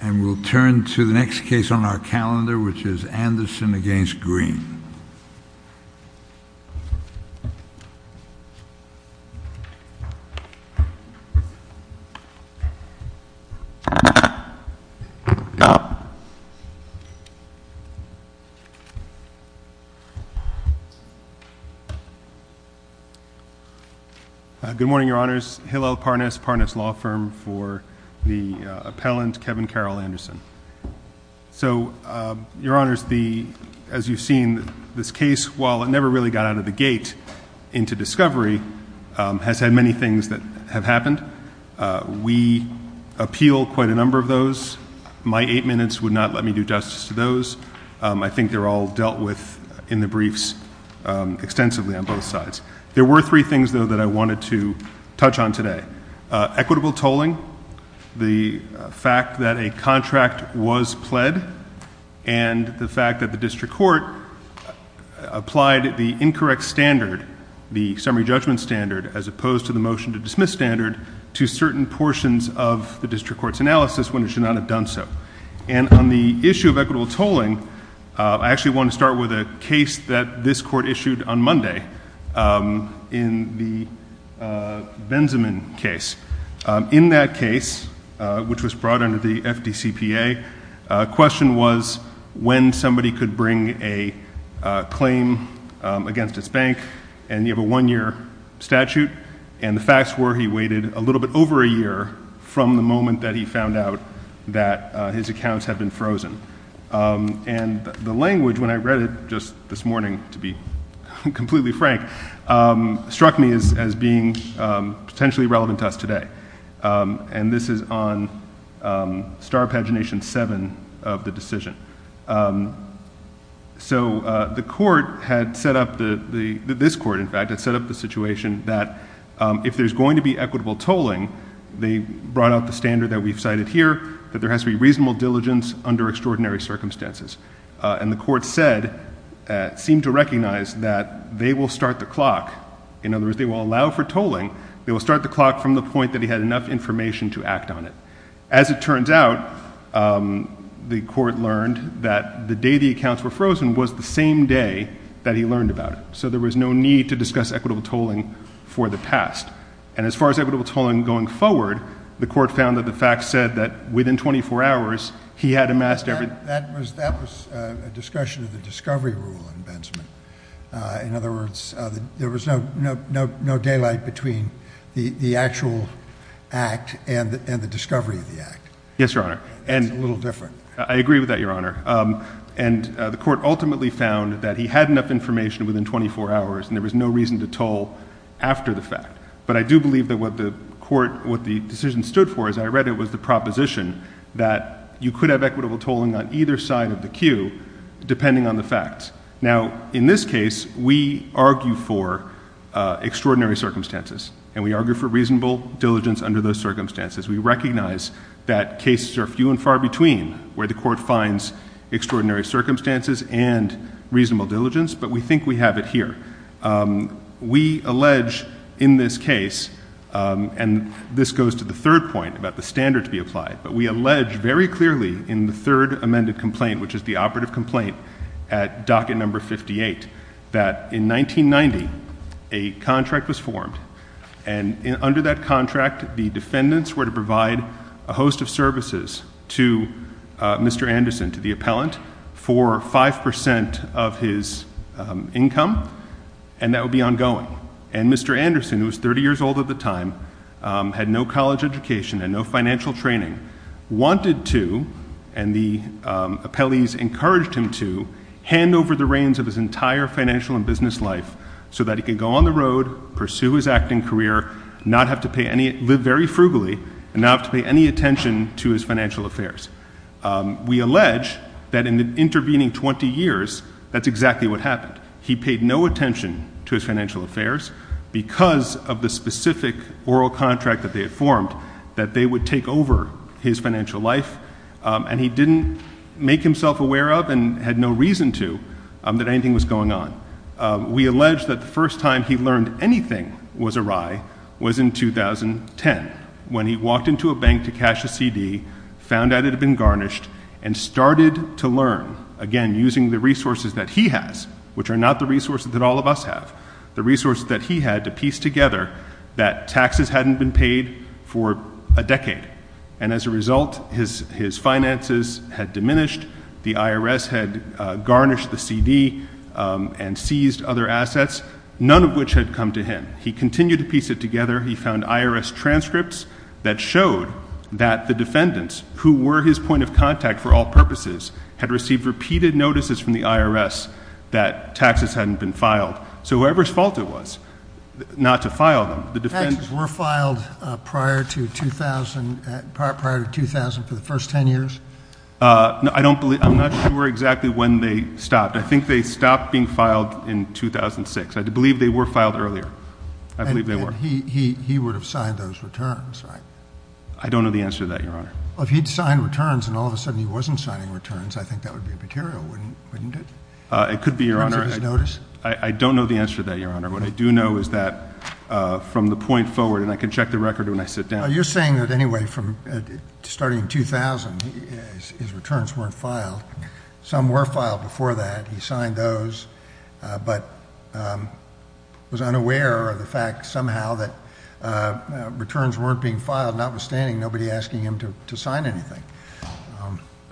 and we'll turn to the next case on our calendar which is Anderson against Greene. Good morning, your honors. Hillel Parness, Parness Law Firm for the appellant Kevin Carroll Anderson. So, your honors, as you've seen, this case, while it never really got out of the gate into discovery, has had many things that have happened. We appeal quite a number of those. My eight minutes would not let me do justice to those. I think they're all dealt with in the briefs extensively on both sides. There were three things, though, that I wanted to touch on today. Equitable tolling, the fact that a contract was pled, and the fact that the district court applied the incorrect standard, the summary judgment standard, as opposed to the motion to dismiss standard, to certain portions of the district court's analysis when it should not have done so. And on the issue of equitable tolling, I actually want to start with a case that this court In that case, which was brought under the FDCPA, question was when somebody could bring a claim against its bank, and you have a one-year statute, and the facts were he waited a little bit over a year from the moment that he found out that his accounts had been frozen. And the language, when I read it just this morning, to be completely frank, struck me as being potentially relevant to us today. And this is on star pagination seven of the decision. So the court had set up, this court, in fact, had set up the situation that if there's going to be equitable tolling, they brought out the standard that we've cited here, that there has to be reasonable diligence under extraordinary circumstances. And the court said, seemed to recognize that they will start the clock, in other words, if they will allow for tolling, they will start the clock from the point that he had enough information to act on it. As it turns out, the court learned that the day the accounts were frozen was the same day that he learned about it. So there was no need to discuss equitable tolling for the past. And as far as equitable tolling going forward, the court found that the facts said that within 24 hours, he had amassed every That was a discussion of the discovery rule in Benjamin. In other words, there was no daylight between the actual act and the discovery of the act. Yes, Your Honor. And it's a little different. I agree with that, Your Honor. And the court ultimately found that he had enough information within 24 hours, and there was no reason to toll after the fact. But I do believe that what the decision stood for, as I read it, was the proposition that you could have equitable tolling on either side of the queue, depending on the facts. Now, in this case, we argue for extraordinary circumstances. And we argue for reasonable diligence under those circumstances. We recognize that cases are few and far between, where the court finds extraordinary circumstances and reasonable diligence, but we think we have it here. We allege in this case, and this goes to the third point about the standard to be applied. But we allege very clearly in the third amended complaint, which is the operative complaint at docket number 58, that in 1990, a contract was formed. And under that contract, the defendants were to provide a host of services to Mr. Anderson, to the appellant, for 5% of his income, and that would be ongoing. And Mr. Anderson, who was 30 years old at the time, had no college education and no financial training, wanted to, and the appellees encouraged him to, hand over the reins of his entire financial and business life so that he could go on the road, pursue his acting career, not have to pay any, live very frugally, and not have to pay any attention to his financial affairs. We allege that in the intervening 20 years, that's exactly what happened. He paid no attention to his financial affairs because of the specific oral contract that they had formed, that they would take over his financial life, and he didn't make himself aware of, and had no reason to, that anything was going on. We allege that the first time he learned anything was awry was in 2010, when he walked into a bank to cash a CD, found out it had been garnished, and started to learn. Again, using the resources that he has, which are not the resources that all of us have. The resources that he had to piece together that taxes hadn't been paid for a decade. And as a result, his finances had diminished. The IRS had garnished the CD and seized other assets, none of which had come to him. He continued to piece it together. He found IRS transcripts that showed that the defendants, who were his point of contact for all purposes, had received repeated notices from the IRS that taxes hadn't been filed. So whoever's fault it was not to file them, the defendants- Taxes were filed prior to 2000, for the first ten years? No, I don't believe, I'm not sure exactly when they stopped. I think they stopped being filed in 2006. I believe they were filed earlier. I believe they were. And he would have signed those returns, right? I don't know the answer to that, Your Honor. If he'd signed returns and all of a sudden he wasn't signing returns, I think that would be immaterial, wouldn't it? It could be, Your Honor. In terms of his notice? I don't know the answer to that, Your Honor. What I do know is that from the point forward, and I can check the record when I sit down. You're saying that anyway, from starting in 2000, his returns weren't filed. Some were filed before that, he signed those, but was unaware of the fact somehow that returns weren't being filed, notwithstanding nobody asking him to sign anything.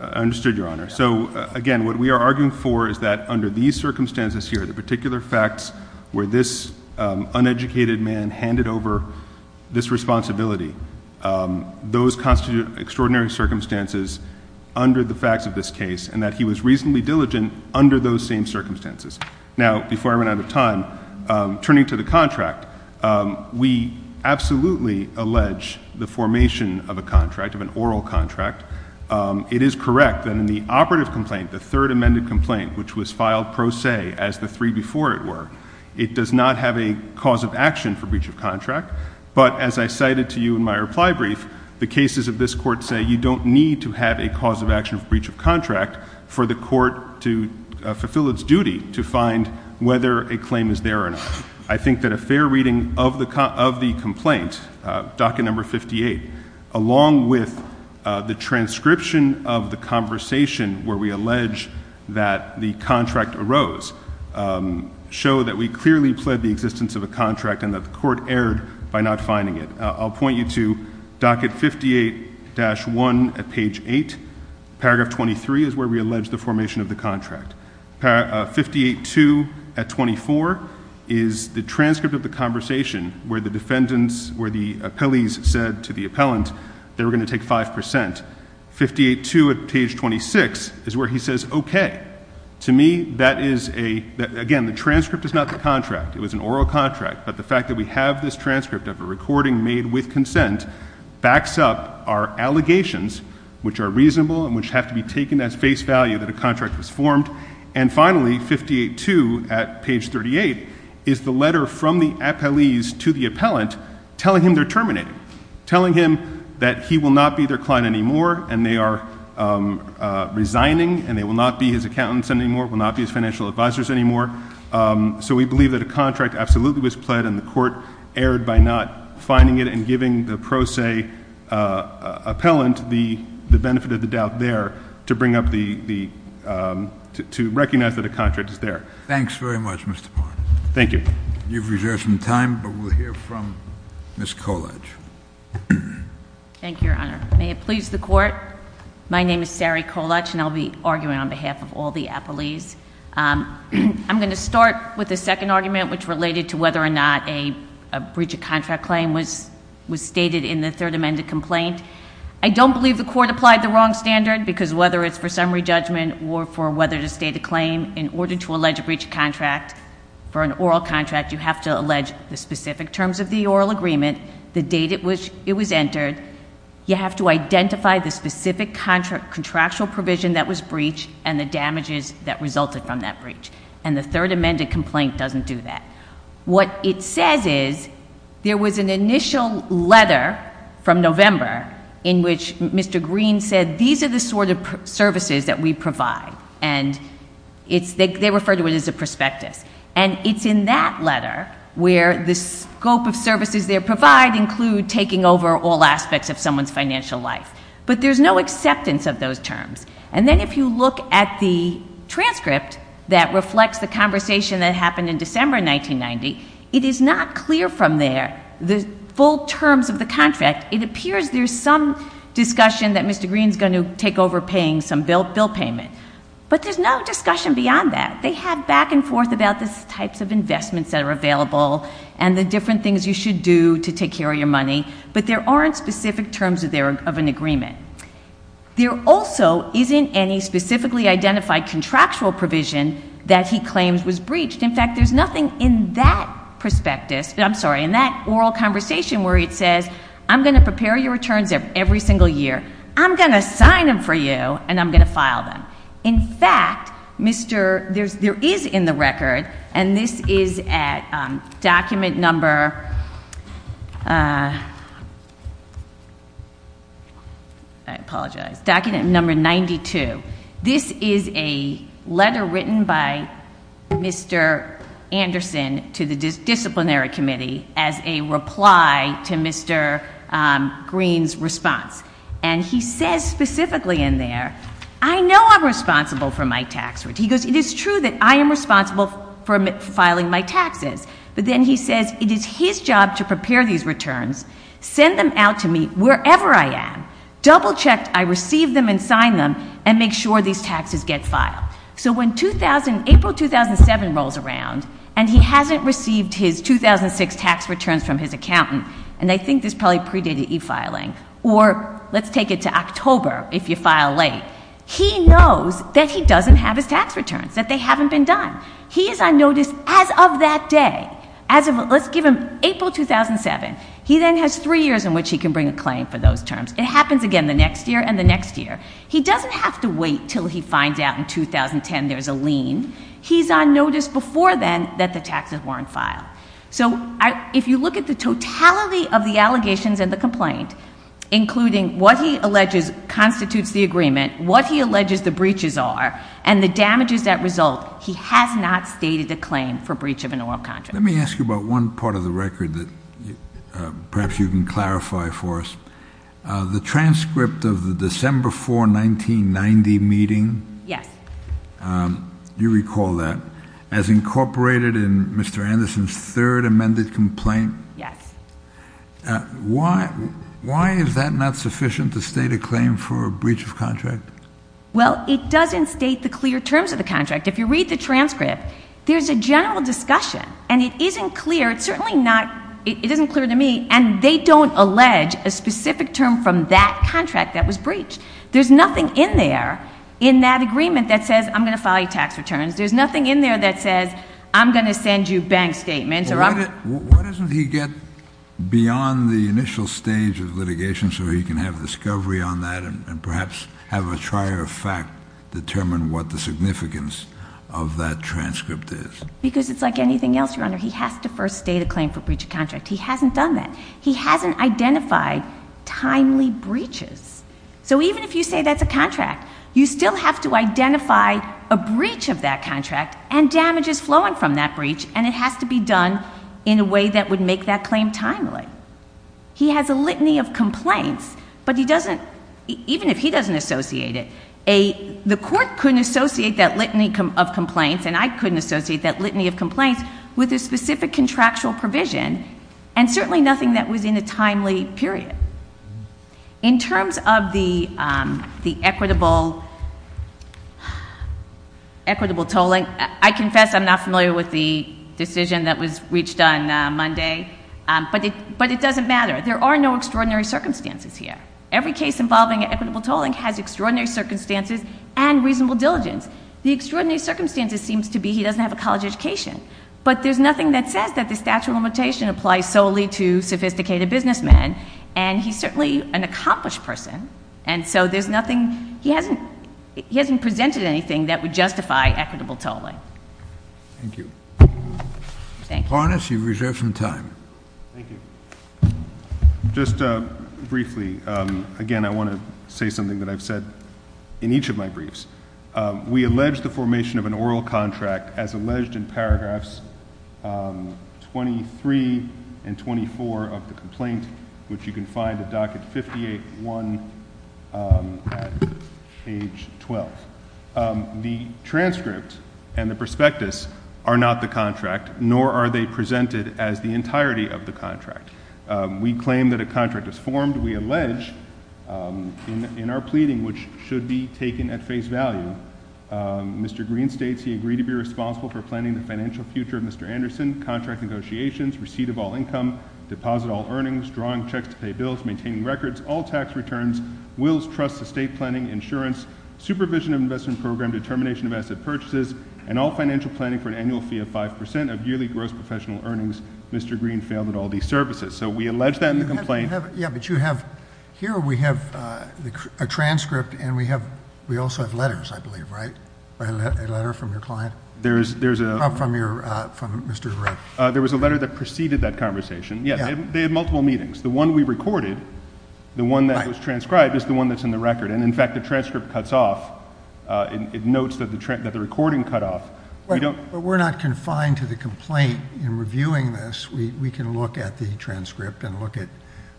Understood, Your Honor. So again, what we are arguing for is that under these circumstances here, the particular facts where this uneducated man handed over this responsibility. Those constitute extraordinary circumstances under the facts of this case and that he was reasonably diligent under those same circumstances. Now, before I run out of time, turning to the contract, we absolutely allege the formation of a contract, of an oral contract. It is correct that in the operative complaint, the third amended complaint, which was filed pro se as the three before it were, it does not have a cause of action for breach of contract, but as I cited to you in my reply brief, the cases of this court say you don't need to have a cause of action for breach of contract for the court to fulfill its duty to find whether a claim is there or not. I think that a fair reading of the complaint, docket number 58, along with the transcription of the conversation where we allege that the contract arose, show that we clearly pled the existence of a contract and that the court erred by not finding it. I'll point you to docket 58-1 at page 8, paragraph 23 is where we allege the formation of the contract. Paragraph 58-2 at 24 is the transcript of the conversation where the defendants, where the appellees said to the appellant they were going to take 5%. 58-2 at page 26 is where he says, okay, to me that is a, again, the transcript is not the contract. It was an oral contract, but the fact that we have this transcript of a recording made with consent backs up our allegations, which are reasonable and which have to be taken as face value that a contract was formed. And finally, 58-2 at page 38 is the letter from the appellees to the appellant telling him they're terminating. Telling him that he will not be their client anymore and they are resigning and they will not be his accountants anymore, will not be his financial advisors anymore. So we believe that a contract absolutely was pled and the court erred by not finding it and giving the pro se appellant the benefit of the doubt there to bring up to recognize that a contract is there. Thanks very much, Mr. Barnes. Thank you. You've reserved some time, but we'll hear from Ms. Kolach. Thank you, your honor. May it please the court. My name is Sari Kolach and I'll be arguing on behalf of all the appellees. I'm going to start with the second argument, which related to whether or not a breach of contract claim was stated in the third amended complaint. I don't believe the court applied the wrong standard because whether it's for summary judgment or for whether to state a claim in order to allege a breach of contract for an oral contract, you have to allege the specific terms of the oral agreement, the date at which it was entered. You have to identify the specific contractual provision that was breached and the damages that resulted from that breach. And the third amended complaint doesn't do that. What it says is, there was an initial letter from November in which Mr. Green said, these are the sort of services that we provide, and they refer to it as a prospectus. And it's in that letter where the scope of services they provide include taking over all aspects of someone's financial life. But there's no acceptance of those terms. And then if you look at the transcript that reflects the conversation that happened in December 1990, it is not clear from there the full terms of the contract. It appears there's some discussion that Mr. Green's going to take over paying some bill payment. But there's no discussion beyond that. They have back and forth about the types of investments that are available and the different things you should do to take care of your money. But there aren't specific terms of an agreement. There also isn't any specifically identified contractual provision that he claims was breached. In fact, there's nothing in that prospectus, I'm sorry, in that oral conversation where it says, I'm going to prepare your returns every single year. I'm going to sign them for you, and I'm going to file them. In fact, there is in the record, and this is at document number, I apologize, document number 92. This is a letter written by Mr. Anderson to the disciplinary committee as a reply to Mr. Green's response. And he says specifically in there, I know I'm responsible for my tax return. He goes, it is true that I am responsible for filing my taxes. But then he says, it is his job to prepare these returns, send them out to me wherever I am. Double checked, I receive them and sign them, and make sure these taxes get filed. So when April 2007 rolls around, and he hasn't received his 2006 tax returns from his accountant, and I think this probably predated e-filing, or let's take it to October if you file late. He knows that he doesn't have his tax returns, that they haven't been done. He is on notice as of that day, as of, let's give him April 2007. He then has three years in which he can bring a claim for those terms. It happens again the next year and the next year. He doesn't have to wait until he finds out in 2010 there's a lien. He's on notice before then that the taxes weren't filed. So if you look at the totality of the allegations and the complaint, including what he alleges constitutes the agreement, what he alleges the breaches are, and the damages that result, he has not stated a claim for breach of an oral contract. Let me ask you about one part of the record that perhaps you can clarify for us. The transcript of the December 4, 1990 meeting. Yes. You recall that. As incorporated in Mr. Anderson's third amended complaint. Yes. Why is that not sufficient to state a claim for a breach of contract? Well, it doesn't state the clear terms of the contract. If you read the transcript, there's a general discussion, and it isn't clear, it's certainly not, it isn't clear to me, and they don't allege a specific term from that contract that was breached. There's nothing in there, in that agreement, that says I'm going to file you tax returns. There's nothing in there that says I'm going to send you bank statements or I'm going to- Why doesn't he get beyond the initial stage of litigation so he can have discovery on that and perhaps have a trier of fact determine what the significance of that transcript is? Because it's like anything else, Your Honor, he has to first state a claim for breach of contract. He hasn't done that. He hasn't identified timely breaches. So even if you say that's a contract, you still have to identify a breach of that contract and damages flowing from that breach, and it has to be done in a way that would make that claim timely. He has a litany of complaints, but he doesn't, even if he doesn't associate it, the court couldn't associate that litany of complaints, and I couldn't associate that litany of complaints, with a specific contractual provision, and certainly nothing that was in a timely period. In terms of the equitable tolling, I confess I'm not familiar with the decision that was reached on Monday, but it doesn't matter, there are no extraordinary circumstances here. Every case involving equitable tolling has extraordinary circumstances and reasonable diligence. The extraordinary circumstances seems to be he doesn't have a college education. But there's nothing that says that the statute of limitation applies solely to sophisticated businessmen, and he's certainly an accomplished person. And so there's nothing, he hasn't presented anything that would justify equitable tolling. Thank you. Thank you. Yes, you've reserved some time. Thank you. Just briefly, again, I want to say something that I've said in each of my briefs. We allege the formation of an oral contract as alleged in paragraphs 23 and 24 of the complaint, which you can find at docket 58-1 at page 12. The transcript and the prospectus are not the contract, nor are they presented as the entirety of the contract. We claim that a contract is formed, we allege in our pleading, which should be taken at face value. Mr. Green states he agreed to be responsible for planning the financial future of Mr. Anderson, contract negotiations, receipt of all income, deposit all earnings, drawing checks to pay bills, maintaining records, all tax returns, wills, trusts, estate planning, insurance, supervision of investment program, determination of asset purchases, and all financial planning for an annual fee of 5% of yearly gross professional earnings, Mr. Green failed at all these services. So we allege that in the complaint. Yeah, but you have, here we have a transcript, and we also have letters, I believe, right? A letter from your client? There's a- From Mr. Red. There was a letter that preceded that conversation. Yeah, they had multiple meetings. The one we recorded, the one that was transcribed, is the one that's in the record. And in fact, the transcript cuts off, it notes that the recording cut off. But we're not confined to the complaint in reviewing this. We can look at the transcript and look at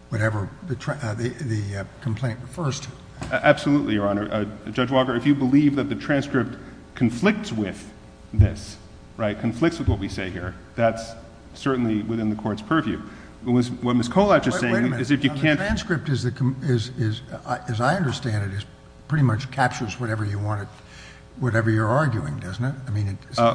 whatever the complaint refers to. Absolutely, Your Honor. Judge Walker, if you believe that the transcript conflicts with this, right, conflicts with what we say here, that's certainly within the court's purview. What Ms. Kolatch is saying is if you can't- Wait a minute, the transcript, as I understand it, pretty much captures whatever you're arguing, doesn't it?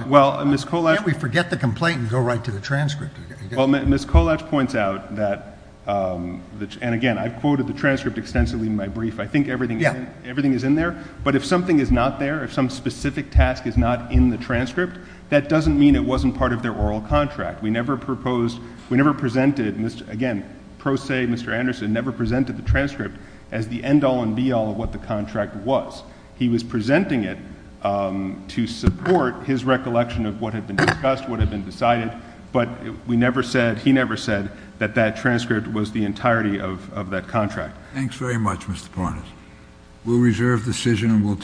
Well, Ms. Kolatch- Can't we forget the complaint and go right to the transcript? Well, Ms. Kolatch points out that, and again, I've quoted the transcript extensively in my brief. I think everything is in there. But if something is not there, if some specific task is not in the transcript, that doesn't mean it wasn't part of their oral contract. We never proposed, we never presented, again, pro se Mr. Anderson never presented the transcript as the end all and be all of what the contract was. He was presenting it to support his recollection of what had been discussed, what had been decided. But we never said, he never said that that transcript was the entirety of that contract. Thanks very much, Mr. Parnas.